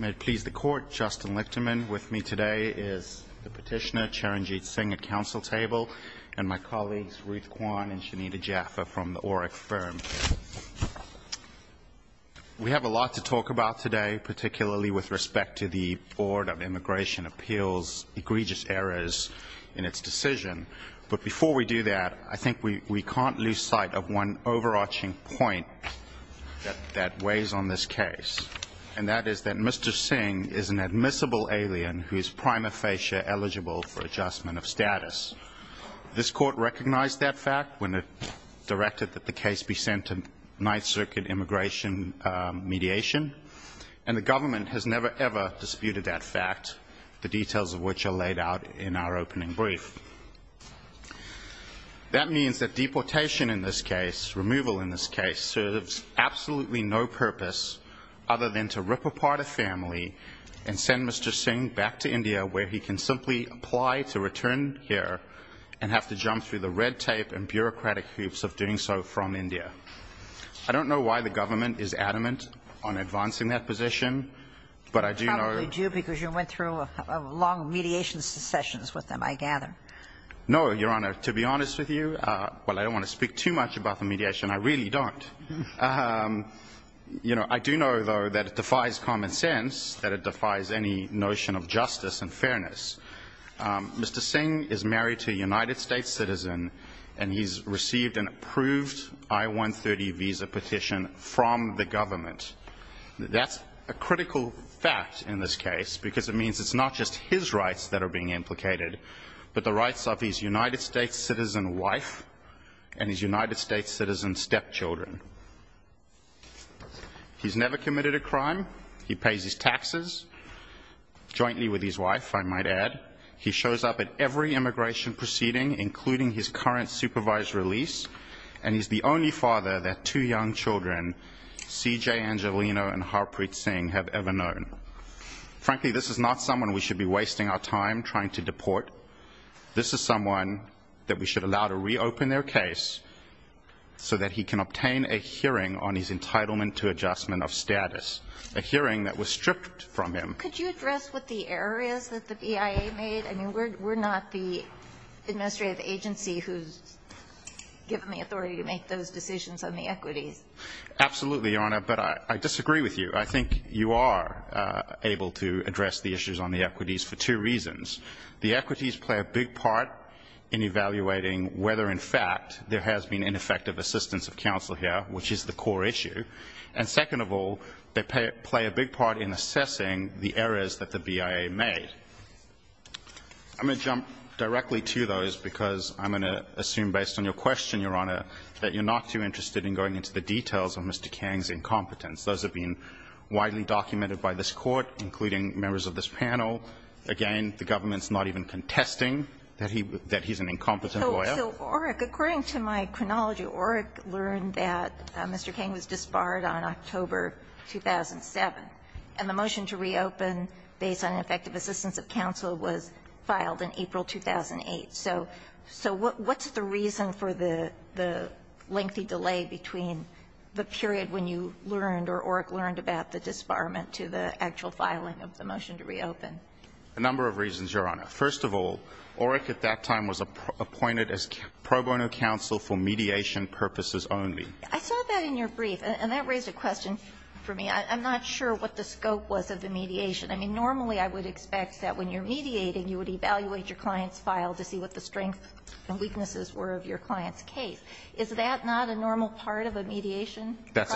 May it please the court, Justin Lichterman with me today is the petitioner Charanjit Singh at council table and my colleagues Ruth Kwan and Shanita Jaffer from the Oryx firm. We have a lot to talk about today, particularly with respect to the Board of Immigration Appeals egregious errors in its decision. But before we do that, I think we can't lose sight of one overarching point that weighs on this case. And that is that Mr. Singh is an admissible alien who is prima facie eligible for adjustment of status. This court recognized that fact when it directed that the case be sent to Ninth Circuit immigration mediation. And the government has never ever disputed that fact, the details of which are laid out in our opening brief. That means that deportation in this case, removal in this case, serves absolutely no purpose other than to rip apart a family and send Mr. Singh back to India where he can simply apply to return here and have to jump through the red tape and bureaucratic hoops of doing so from India. I don't know why the government is adamant on advancing that position, but I do know I gather. No, Your Honor. To be honest with you, while I don't want to speak too much about the mediation, I really don't. You know, I do know, though, that it defies common sense, that it defies any notion of justice and fairness. Mr. Singh is married to a United States citizen, and he's received an approved I-130 visa petition from the government. That's a critical fact in this case, because it means it's not just his rights that are being implicated, but the rights of his United States citizen wife and his United States citizen stepchildren. He's never committed a crime. He pays his taxes, jointly with his wife, I might add. He shows up at every immigration proceeding, including his current supervised release, and he's the only father that two young children, C.J. Angelino and Harpreet Singh, have ever known. Frankly, this is not someone we should be wasting our time trying to deport. This is someone that we should allow to reopen their case so that he can obtain a hearing on his entitlement to adjustment of status, a hearing that was stripped from him. Could you address what the error is that the BIA made? I mean, we're not the administrative agency who's given the authority to make those decisions on the equities. Absolutely, Your Honor, but I disagree with you. I think you are able to address the issues on the equities for two reasons. The equities play a big part in evaluating whether, in fact, there has been ineffective assistance of counsel here, which is the core issue. And second of all, they play a big part in assessing the errors that the BIA made. I'm going to jump directly to those because I'm going to assume, based on your question, Your Honor, that you're not too interested in going into the details of Mr. Kang's incompetence. Those have been widely documented by this Court, including members of this panel. Again, the government's not even contesting that he's an incompetent lawyer. So, Oreck, according to my chronology, Oreck learned that Mr. Kang was disbarred on October 2007, and the motion to reopen based on ineffective assistance of counsel was filed in April 2008. So what's the reason for the lengthy delay between the period when you learned or Oreck learned about the disbarment to the actual filing of the motion to reopen? A number of reasons, Your Honor. First of all, Oreck at that time was appointed as pro bono counsel for mediation purposes only. I saw that in your brief, and that raised a question for me. I'm not sure what the scope was of the mediation. I mean, normally I would expect that when you're mediating, you would evaluate your client's file to see what the strengths and weaknesses were of your client's case. Is that not a normal part of a mediation? That's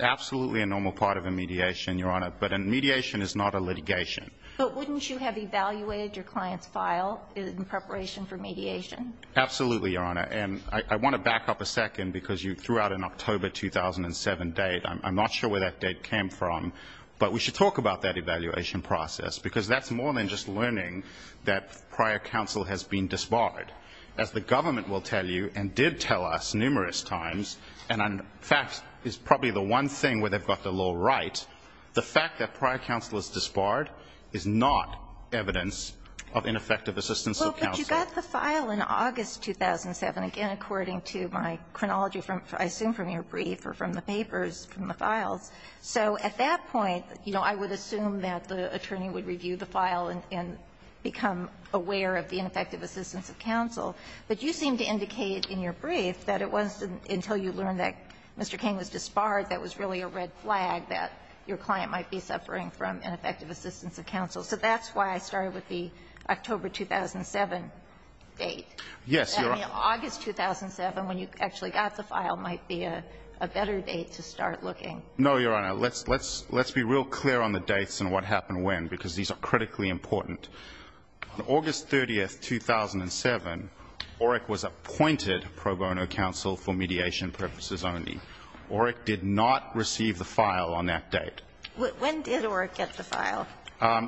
absolutely a normal part of a mediation, Your Honor. But a mediation is not a litigation. But wouldn't you have evaluated your client's file in preparation for mediation? Absolutely, Your Honor. And I want to back up a second, because you threw out an October 2007 date. I'm not sure where that date came from. But we should talk about that evaluation process, because that's more than just learning that prior counsel has been disbarred. As the government will tell you, and did tell us numerous times, and in fact is probably the one thing where they've got the law right, the fact that prior counsel is disbarred is not evidence of ineffective assistance of counsel. Well, but you got the file in August 2007, again, according to my chronology from, I assume, from your brief or from the papers, from the files. So at that point, you know, I would assume that the attorney would review the file and become aware of the ineffective assistance of counsel. But you seem to indicate in your brief that it wasn't until you learned that Mr. King was disbarred that was really a red flag that your client might be suffering from ineffective assistance of counsel. So that's why I started with the October 2007 date. Yes, Your Honor. That August 2007, when you actually got the file, might be a better date to start looking. No, Your Honor. Let's be real clear on the dates and what happened when, because these are critically important. On August 30, 2007, OREC was appointed pro bono counsel for mediation purposes only. OREC did not receive the file on that date. When did OREC get the file?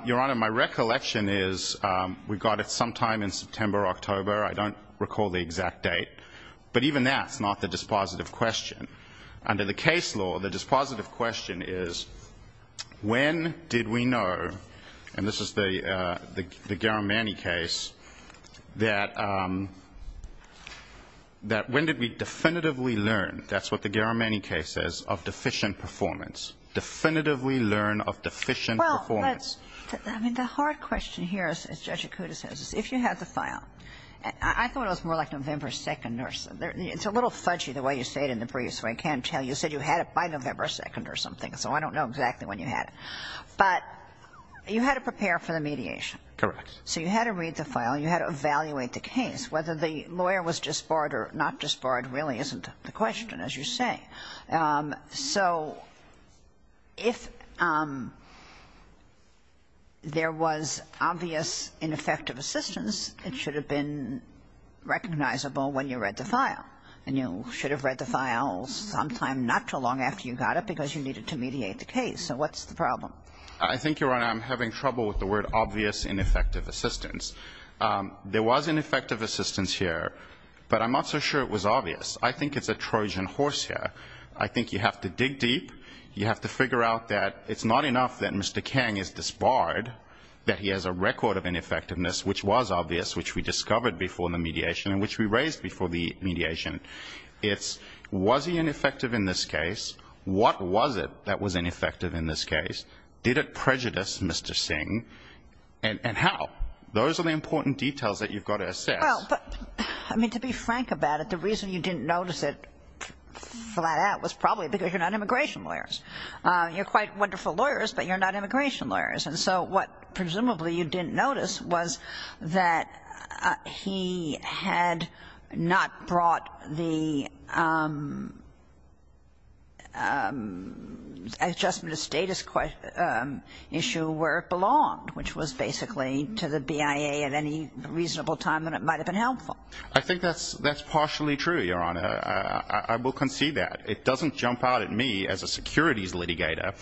Your Honor, my recollection is we got it sometime in September, October. I don't recall the exact date. But even that's not the dispositive question. Under the case law, the dispositive question is when did we know, and this is the Garamani case, that when did we definitively learn, that's what the Garamani case says, of deficient performance. Definitively learn of deficient performance. Well, let's – I mean, the hard question here, as Judge Acuda says, is if you had the file. I thought it was more like November 2nd or something. It's a little fudgy the way you say it in the brief, so I can't tell. You said you had it by November 2nd or something, so I don't know exactly when you had it. But you had to prepare for the mediation. Correct. So you had to read the file and you had to evaluate the case. Whether the lawyer was disbarred or not disbarred really isn't the question, as you say. So if there was obvious ineffective assistance, it should have been recognizable when you read the file. And you should have read the file sometime not too long after you got it because you needed to mediate the case. So what's the problem? I think, Your Honor, I'm having trouble with the word obvious ineffective assistance. There was ineffective assistance here, but I'm not so sure it was obvious. I think it's a Trojan horse here. I think you have to dig deep. You have to figure out that it's not enough that Mr. Kang is disbarred, that he has a record of ineffectiveness which was obvious, which we discovered before the mediation and which we raised before the mediation. It's was he ineffective in this case? What was it that was ineffective in this case? Did it prejudice Mr. Singh? And how? Those are the important details that you've got to assess. Well, I mean, to be frank about it, the reason you didn't notice it flat out was probably because you're not immigration lawyers. You're quite wonderful lawyers, but you're not immigration lawyers. And so what presumably you didn't notice was that he had not brought the adjustment of status issue where it belonged, which was basically to the BIA at any reasonable time that it might have been helpful. I think that's partially true, Your Honor. I will concede that. It doesn't jump out at me as a securities litigator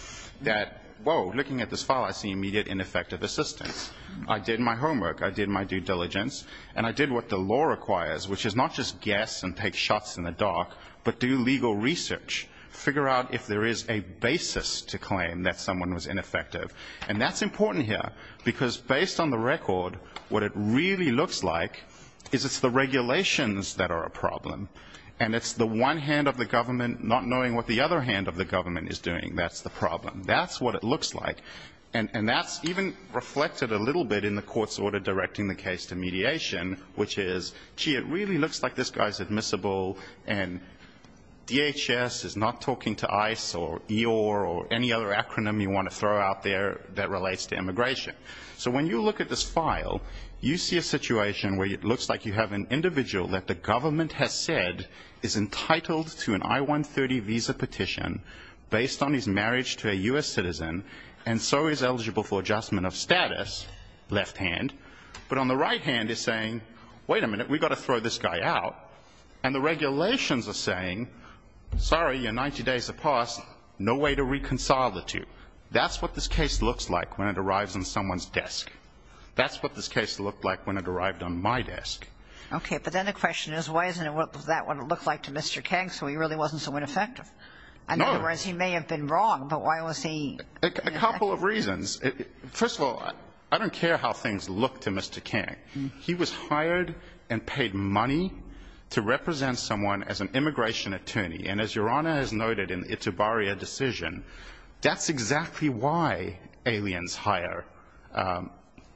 that, whoa, looking at this file I see immediate ineffective assistance. I did my homework. I did my due diligence. And I did what the law requires, which is not just guess and take shots in the dark, but do legal research, figure out if there is a basis to claim that someone was ineffective. And that's important here, because based on the record, what it really looks like is it's the regulations that are a problem, and it's the one hand of the government not knowing what the other hand of the government is doing that's the problem. That's what it looks like. And that's even reflected a little bit in the court's order directing the case to mediation, which is, gee, it really looks like this guy's admissible, and DHS is not talking to ICE or EOIR or any other acronym you want to throw out there that relates to immigration. So when you look at this file, you see a situation where it looks like you have an individual that the government has said is entitled to an I-130 visa petition based on his marriage to a U.S. citizen, and so is eligible for adjustment of status, left hand. But on the right hand, they're saying, wait a minute, we've got to throw this guy out. And the regulations are saying, sorry, you're 90 days of pause, no way to reconcile the two. That's what this case looks like when it arrives on someone's desk. That's what this case looked like when it arrived on my desk. Okay, but then the question is, why isn't it what that would look like to Mr. Kang, so he really wasn't so ineffective? In other words, he may have been wrong, but why was he- A couple of reasons. First of all, I don't care how things look to Mr. Kang. He was hired and paid money to represent someone as an immigration attorney. And as Your Honor has noted in the Itabarria decision, that's exactly why aliens hire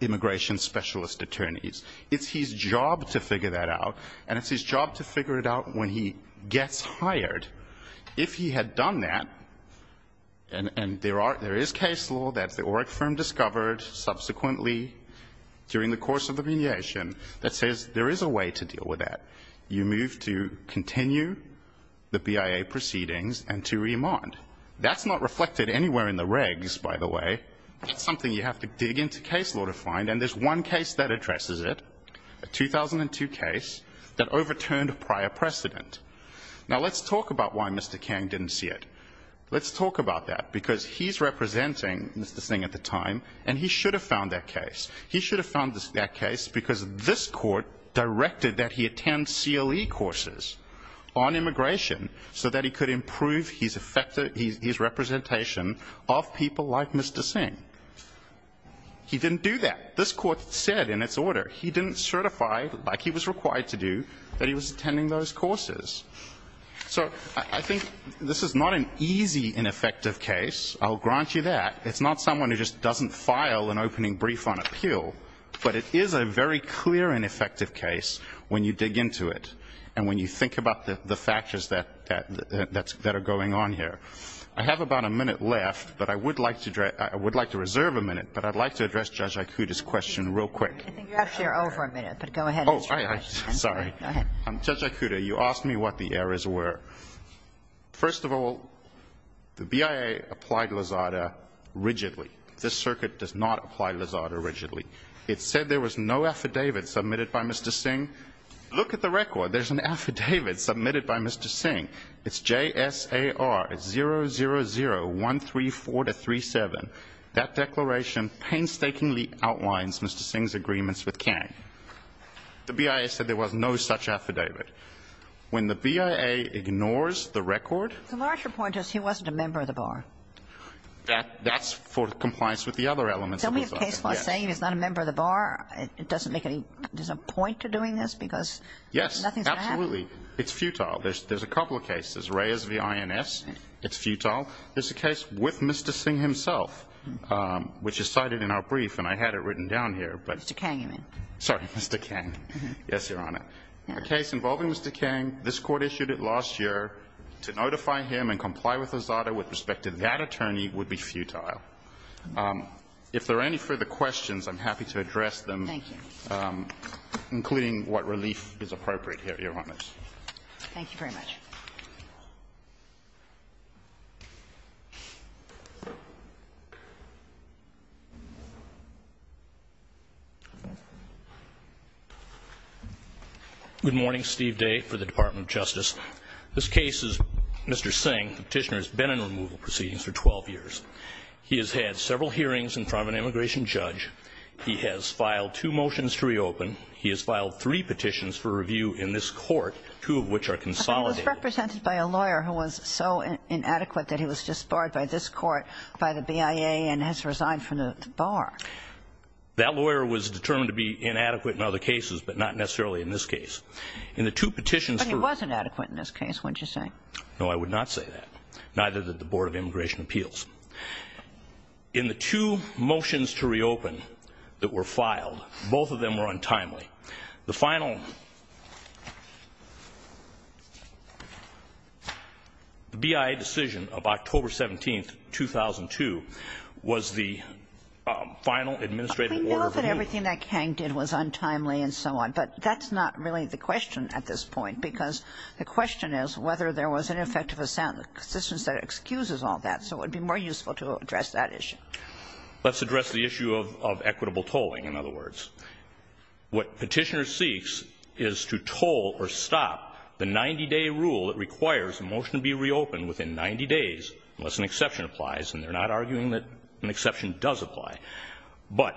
immigration specialist attorneys. It's his job to figure that out, and it's his job to figure it out when he gets hired. If he had done that, and there is case law that the OREC firm discovered subsequently during the course of the mediation that says there is a way to deal with that. You move to continue the BIA proceedings and to remand. That's not reflected anywhere in the regs, by the way. That's something you have to dig into case law to find, and there's one case that addresses it, a 2002 case that overturned prior precedent. Now let's talk about why Mr. Kang didn't see it. Let's talk about that, because he's representing Mr. Singh at the time, and he should have found that case. He should have found that case because this court directed that he attend CLE courses on immigration so that he could improve his representation of people like Mr. Singh. He didn't do that. This court said in its order he didn't certify, like he was required to do, that he was attending those courses. So I think this is not an easy and effective case. I'll grant you that. It's not someone who just doesn't file an opening brief on appeal, but it is a very clear and effective case when you dig into it and when you think about the factors that are going on here. I have about a minute left, but I would like to reserve a minute, but I'd like to address Judge Aikuda's question real quick. I think you're actually over a minute, but go ahead. Oh, I'm sorry. Go ahead. Judge Aikuda, you asked me what the errors were. First of all, the BIA applied Lozada rigidly. This circuit does not apply Lozada rigidly. It said there was no affidavit submitted by Mr. Singh. Look at the record. There's an affidavit submitted by Mr. Singh. It's JSAR 000134-37. That declaration painstakingly outlines Mr. Singh's agreements with Kang. The BIA said there was no such affidavit. When the BIA ignores the record. The larger point is he wasn't a member of the bar. That's for compliance with the other elements of Lozada. So we have case law saying he's not a member of the bar. It doesn't make any point to doing this because nothing's going to happen? Yes, absolutely. It's futile. There's a couple of cases. Reyes v. INS. It's futile. There's a case with Mr. Singh himself, which is cited in our brief, and I had it written down here. Mr. Kang, you mean? Sorry, Mr. Kang. Yes, Your Honor. A case involving Mr. Kang, this Court issued it last year. To notify him and comply with Lozada with respect to that attorney would be futile. If there are any further questions, I'm happy to address them. Thank you. Including what relief is appropriate here, Your Honor. Thank you very much. Good morning. Steve Day for the Department of Justice. This case is Mr. Singh. The petitioner has been in removal proceedings for 12 years. He has had several hearings in front of an immigration judge. He has filed two motions to reopen. He has filed three petitions for review in this Court, two of which are consolidated. He has had several hearings in front of an immigration judge. He was represented by a lawyer who was so inadequate that he was disbarred by this Court, by the BIA, and has resigned from the bar. That lawyer was determined to be inadequate in other cases, but not necessarily in this case. In the two petitions for ---- But he was inadequate in this case, wouldn't you say? No, I would not say that. Neither did the Board of Immigration Appeals. In the two motions to reopen that were filed, both of them were untimely. The final BIA decision of October 17th, 2002, was the final administrative order of review. We know that everything that Kang did was untimely and so on, but that's not really the question at this point, because the question is whether there was an effect of assent. This one says it excuses all that, so it would be more useful to address that issue. Let's address the issue of equitable tolling, in other words. What Petitioner seeks is to toll or stop the 90-day rule that requires a motion to be reopened within 90 days, unless an exception applies, and they're not arguing that an exception does apply. But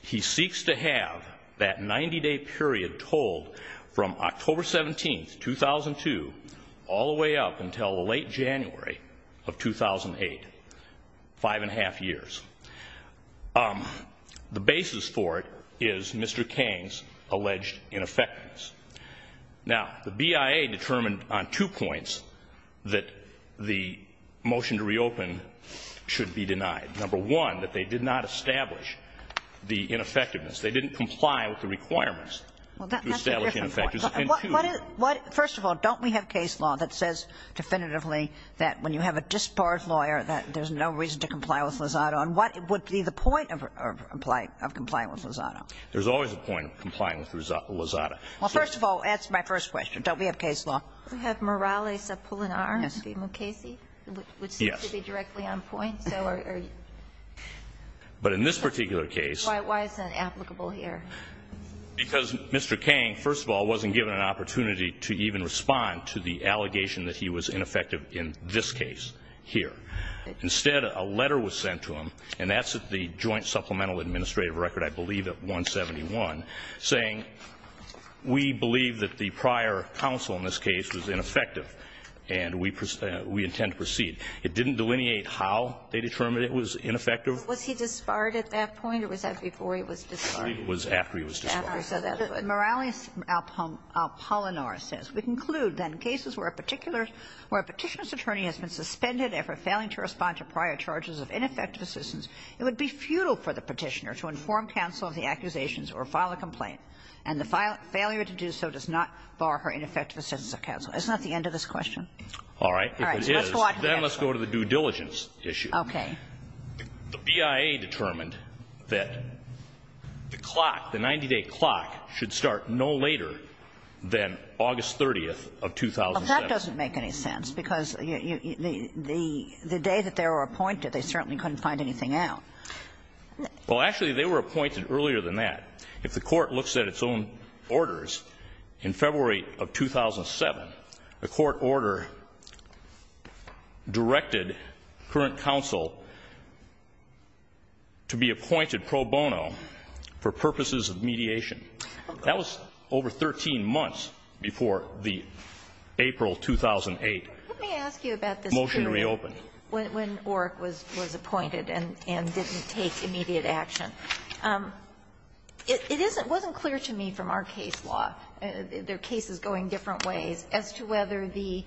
he seeks to have that 90-day period tolled from October 17th, 2002, all the way up until late January of 2008, five and a half years. The basis for it is Mr. Kang's alleged ineffectiveness. Now, the BIA determined on two points that the motion to reopen should be denied. Number one, that they did not establish the ineffectiveness. They didn't comply with the requirements to establish ineffectiveness. And two --" Kagan. First of all, don't we have case law that says definitively that when you have a disbarred there's no reason to comply with Lozada? And what would be the point of complying with Lozada? There's always a point of complying with Lozada. Well, first of all, answer my first question. Don't we have case law? We have Morales-Apulinar. Yes. Mukasey, which seems to be directly on point. But in this particular case. Why is that applicable here? Because Mr. Kang, first of all, wasn't given an opportunity to even respond to the Instead, a letter was sent to him, and that's at the Joint Supplemental Administrative Record, I believe at 171, saying we believe that the prior counsel in this case was ineffective and we intend to proceed. It didn't delineate how they determined it was ineffective. Was he disbarred at that point or was that before he was disbarred? It was after he was disbarred. After he was disbarred. Morales-Apulinar says, It would be futile for the Petitioner to inform counsel of the accusations or file a complaint, and the failure to do so does not bar her ineffective assistance of counsel. Isn't that the end of this question? All right. If it is, then let's go to the due diligence issue. Okay. The BIA determined that the clock, the 90-day clock, should start no later than August 30th of 2007. Well, that doesn't make any sense, because the day that they were appointed, they certainly couldn't find anything out. Well, actually, they were appointed earlier than that. If the Court looks at its own orders, in February of 2007, the Court order directed current counsel to be appointed pro bono for purposes of mediation. That was over 13 months before the April 2008 motion reopened. Let me ask you about this, too, when Orrick was appointed and didn't take immediate action. It wasn't clear to me from our case law, there are cases going different ways, as to whether the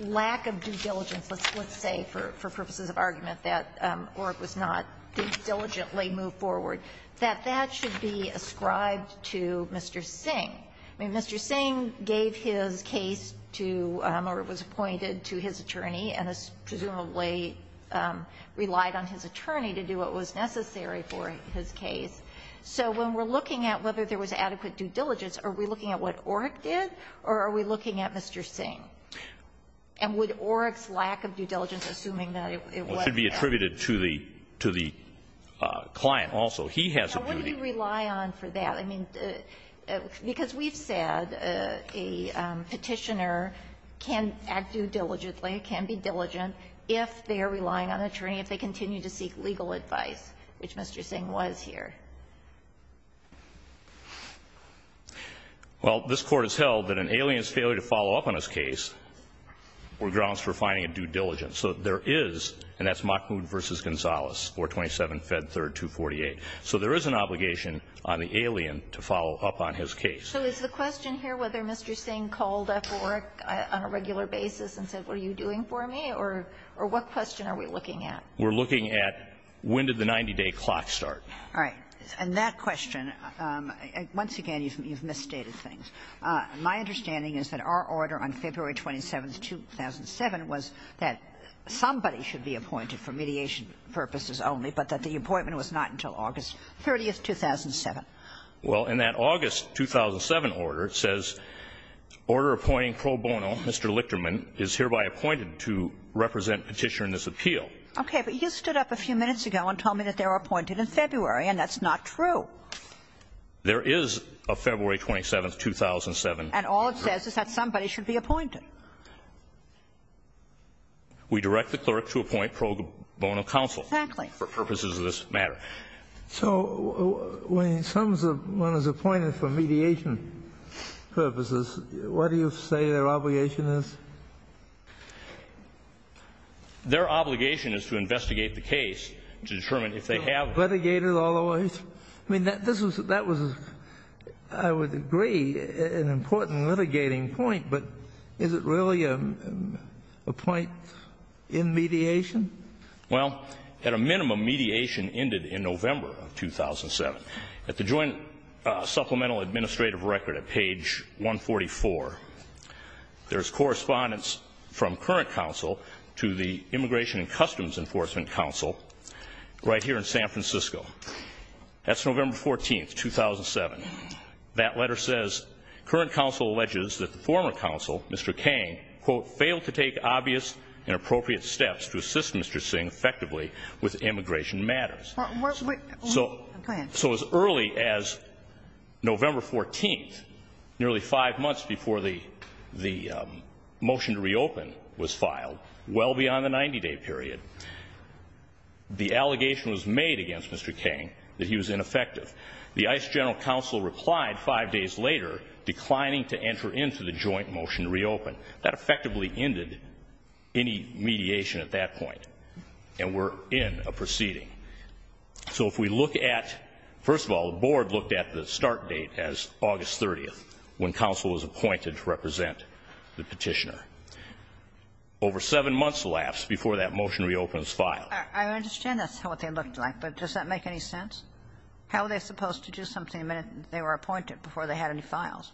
lack of due diligence, let's say for purposes of argument that Orrick was not duly moved forward, that that should be ascribed to Mr. Singh. I mean, Mr. Singh gave his case to, or was appointed to his attorney and presumably relied on his attorney to do what was necessary for his case. So when we're looking at whether there was adequate due diligence, are we looking at what Orrick did, or are we looking at Mr. Singh? And would Orrick's lack of due diligence, assuming that it wasn't there? Well, it should be attributed to the client also. He has a duty. Now, what do you rely on for that? I mean, because we've said a Petitioner can act due diligently, can be diligent if they are relying on an attorney, if they continue to seek legal advice, which Mr. Singh was here. Well, this Court has held that an alien's failure to follow up on his case were grounds for finding a due diligence. So there is, and that's Mockmood v. Gonzales, 427 Fed 3rd 248. So there is an obligation on the alien to follow up on his case. So is the question here whether Mr. Singh called up Orrick on a regular basis and said, what are you doing for me? Or what question are we looking at? We're looking at when did the 90-day clock start? All right. And that question, once again, you've misstated things. My understanding is that our order on February 27, 2007, was that somebody should be appointed for mediation purposes only, but that the appointment was not until August 30, 2007. Well, in that August 2007 order, it says, Order Appointing Pro Bono, Mr. Lichterman is hereby appointed to represent Petitioner in this appeal. Okay. But you stood up a few minutes ago and told me that they were appointed in February and that's not true. There is a February 27, 2007. And all it says is that somebody should be appointed. We direct the clerk to appoint pro bono counsel. Exactly. For purposes of this matter. So when someone is appointed for mediation purposes, what do you say their obligation is? Their obligation is to investigate the case to determine if they have. Litigated otherwise? I mean, that was, I would agree, an important litigating point. But is it really a point in mediation? Well, at a minimum, mediation ended in November of 2007. At the Joint Supplemental Administrative Record at page 144, there's correspondence from current counsel to the Immigration and Customs Enforcement Counsel right here in San Francisco. That's November 14, 2007. That letter says, Current counsel alleges that the former counsel, Mr. Kang, quote, failed to take obvious and appropriate steps to assist Mr. Singh effectively with immigration matters. Go ahead. So as early as November 14, nearly five months before the motion to reopen was filed, well beyond the 90-day period, the allegation was made against Mr. Kang that he was ineffective. The ICE General Counsel replied five days later, declining to enter into the joint motion to reopen. That effectively ended any mediation at that point. And we're in a proceeding. So if we look at, first of all, the board looked at the start date as August 30th, when counsel was appointed to represent the petitioner. Over seven months elapsed before that motion reopens file. I understand that's what they looked like, but does that make any sense? How are they supposed to do something the minute they were appointed, before they had any files?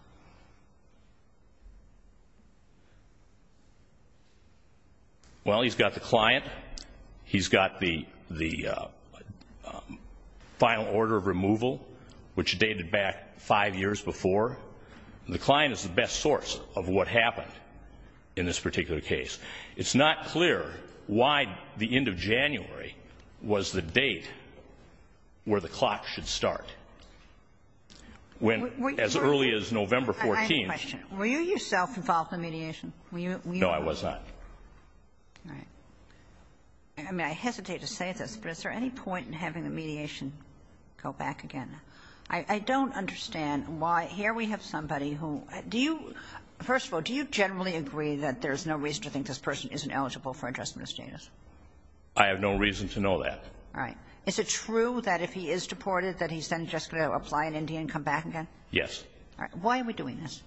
Well, he's got the client. He's got the final order of removal, which dated back five years before. The client is the best source of what happened in this particular case. It's not clear why the end of January was the date where the clock should start. As early as November 14th. I have a question. Were you yourself involved in mediation? No, I was not. All right. I mean, I hesitate to say this, but is there any point in having the mediation go back again? I don't understand why. Here we have somebody who do you, first of all, do you generally agree that there is no reason to think this person isn't eligible for adjustment of status? I have no reason to know that. All right. Is it true that if he is deported, that he's then just going to apply in India and come back again? Yes. All right. Why are we doing this?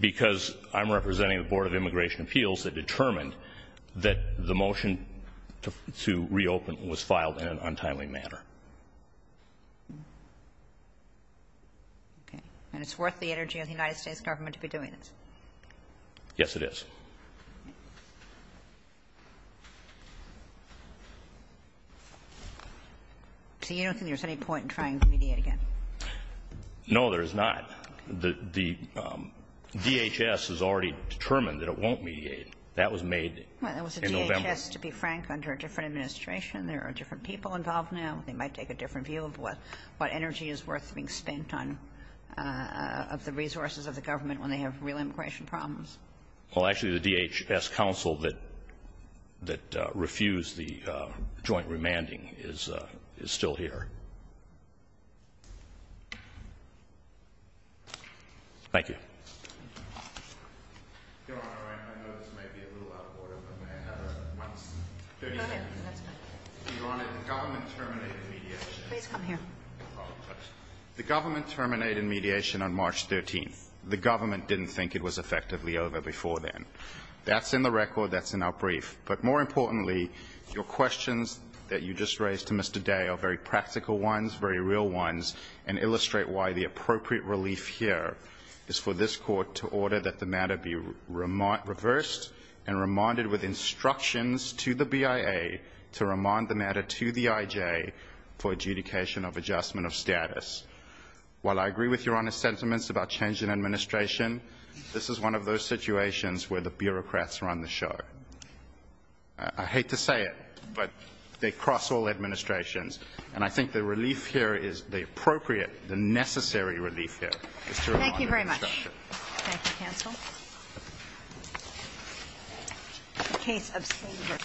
Because I'm representing the Board of Immigration Appeals that determined that the motion to reopen was filed in an untimely manner. Okay. And it's worth the energy of the United States government to be doing this. Yes, it is. So you don't think there's any point in trying to mediate again? No, there is not. The DHS has already determined that it won't mediate. That was made in November. Well, it was the DHS, to be frank, under a different administration. There are different people involved now. They might take a different view of what energy is worth being spent on of the resources of the government when they have real immigration problems. Well, actually, the DHS counsel that refused the joint remanding is still here. Thank you. Your Honor, I know this may be a little out of order, but may I have a moment? Go ahead. That's fine. Your Honor, the government terminated mediation. Please come here. The government terminated mediation on March 13th. The government didn't think it was effectively over before then. That's in the record. That's in our brief. But more importantly, your questions that you just raised to Mr. Day are very practical ones, very real ones, and illustrate why the appropriate relief here is for this Court to order that the matter be reversed and remanded with instructions to the BIA to remand the matter to the IJ for adjudication of adjustment of status. While I agree with your Honor's sentiments about change in administration, this is one of those situations where the bureaucrats run the show. I hate to say it, but they cross all administrations. And I think the relief here is the appropriate, the necessary relief here is to remand it with instructions. Thank you very much. Thank you, counsel. The case of Sager.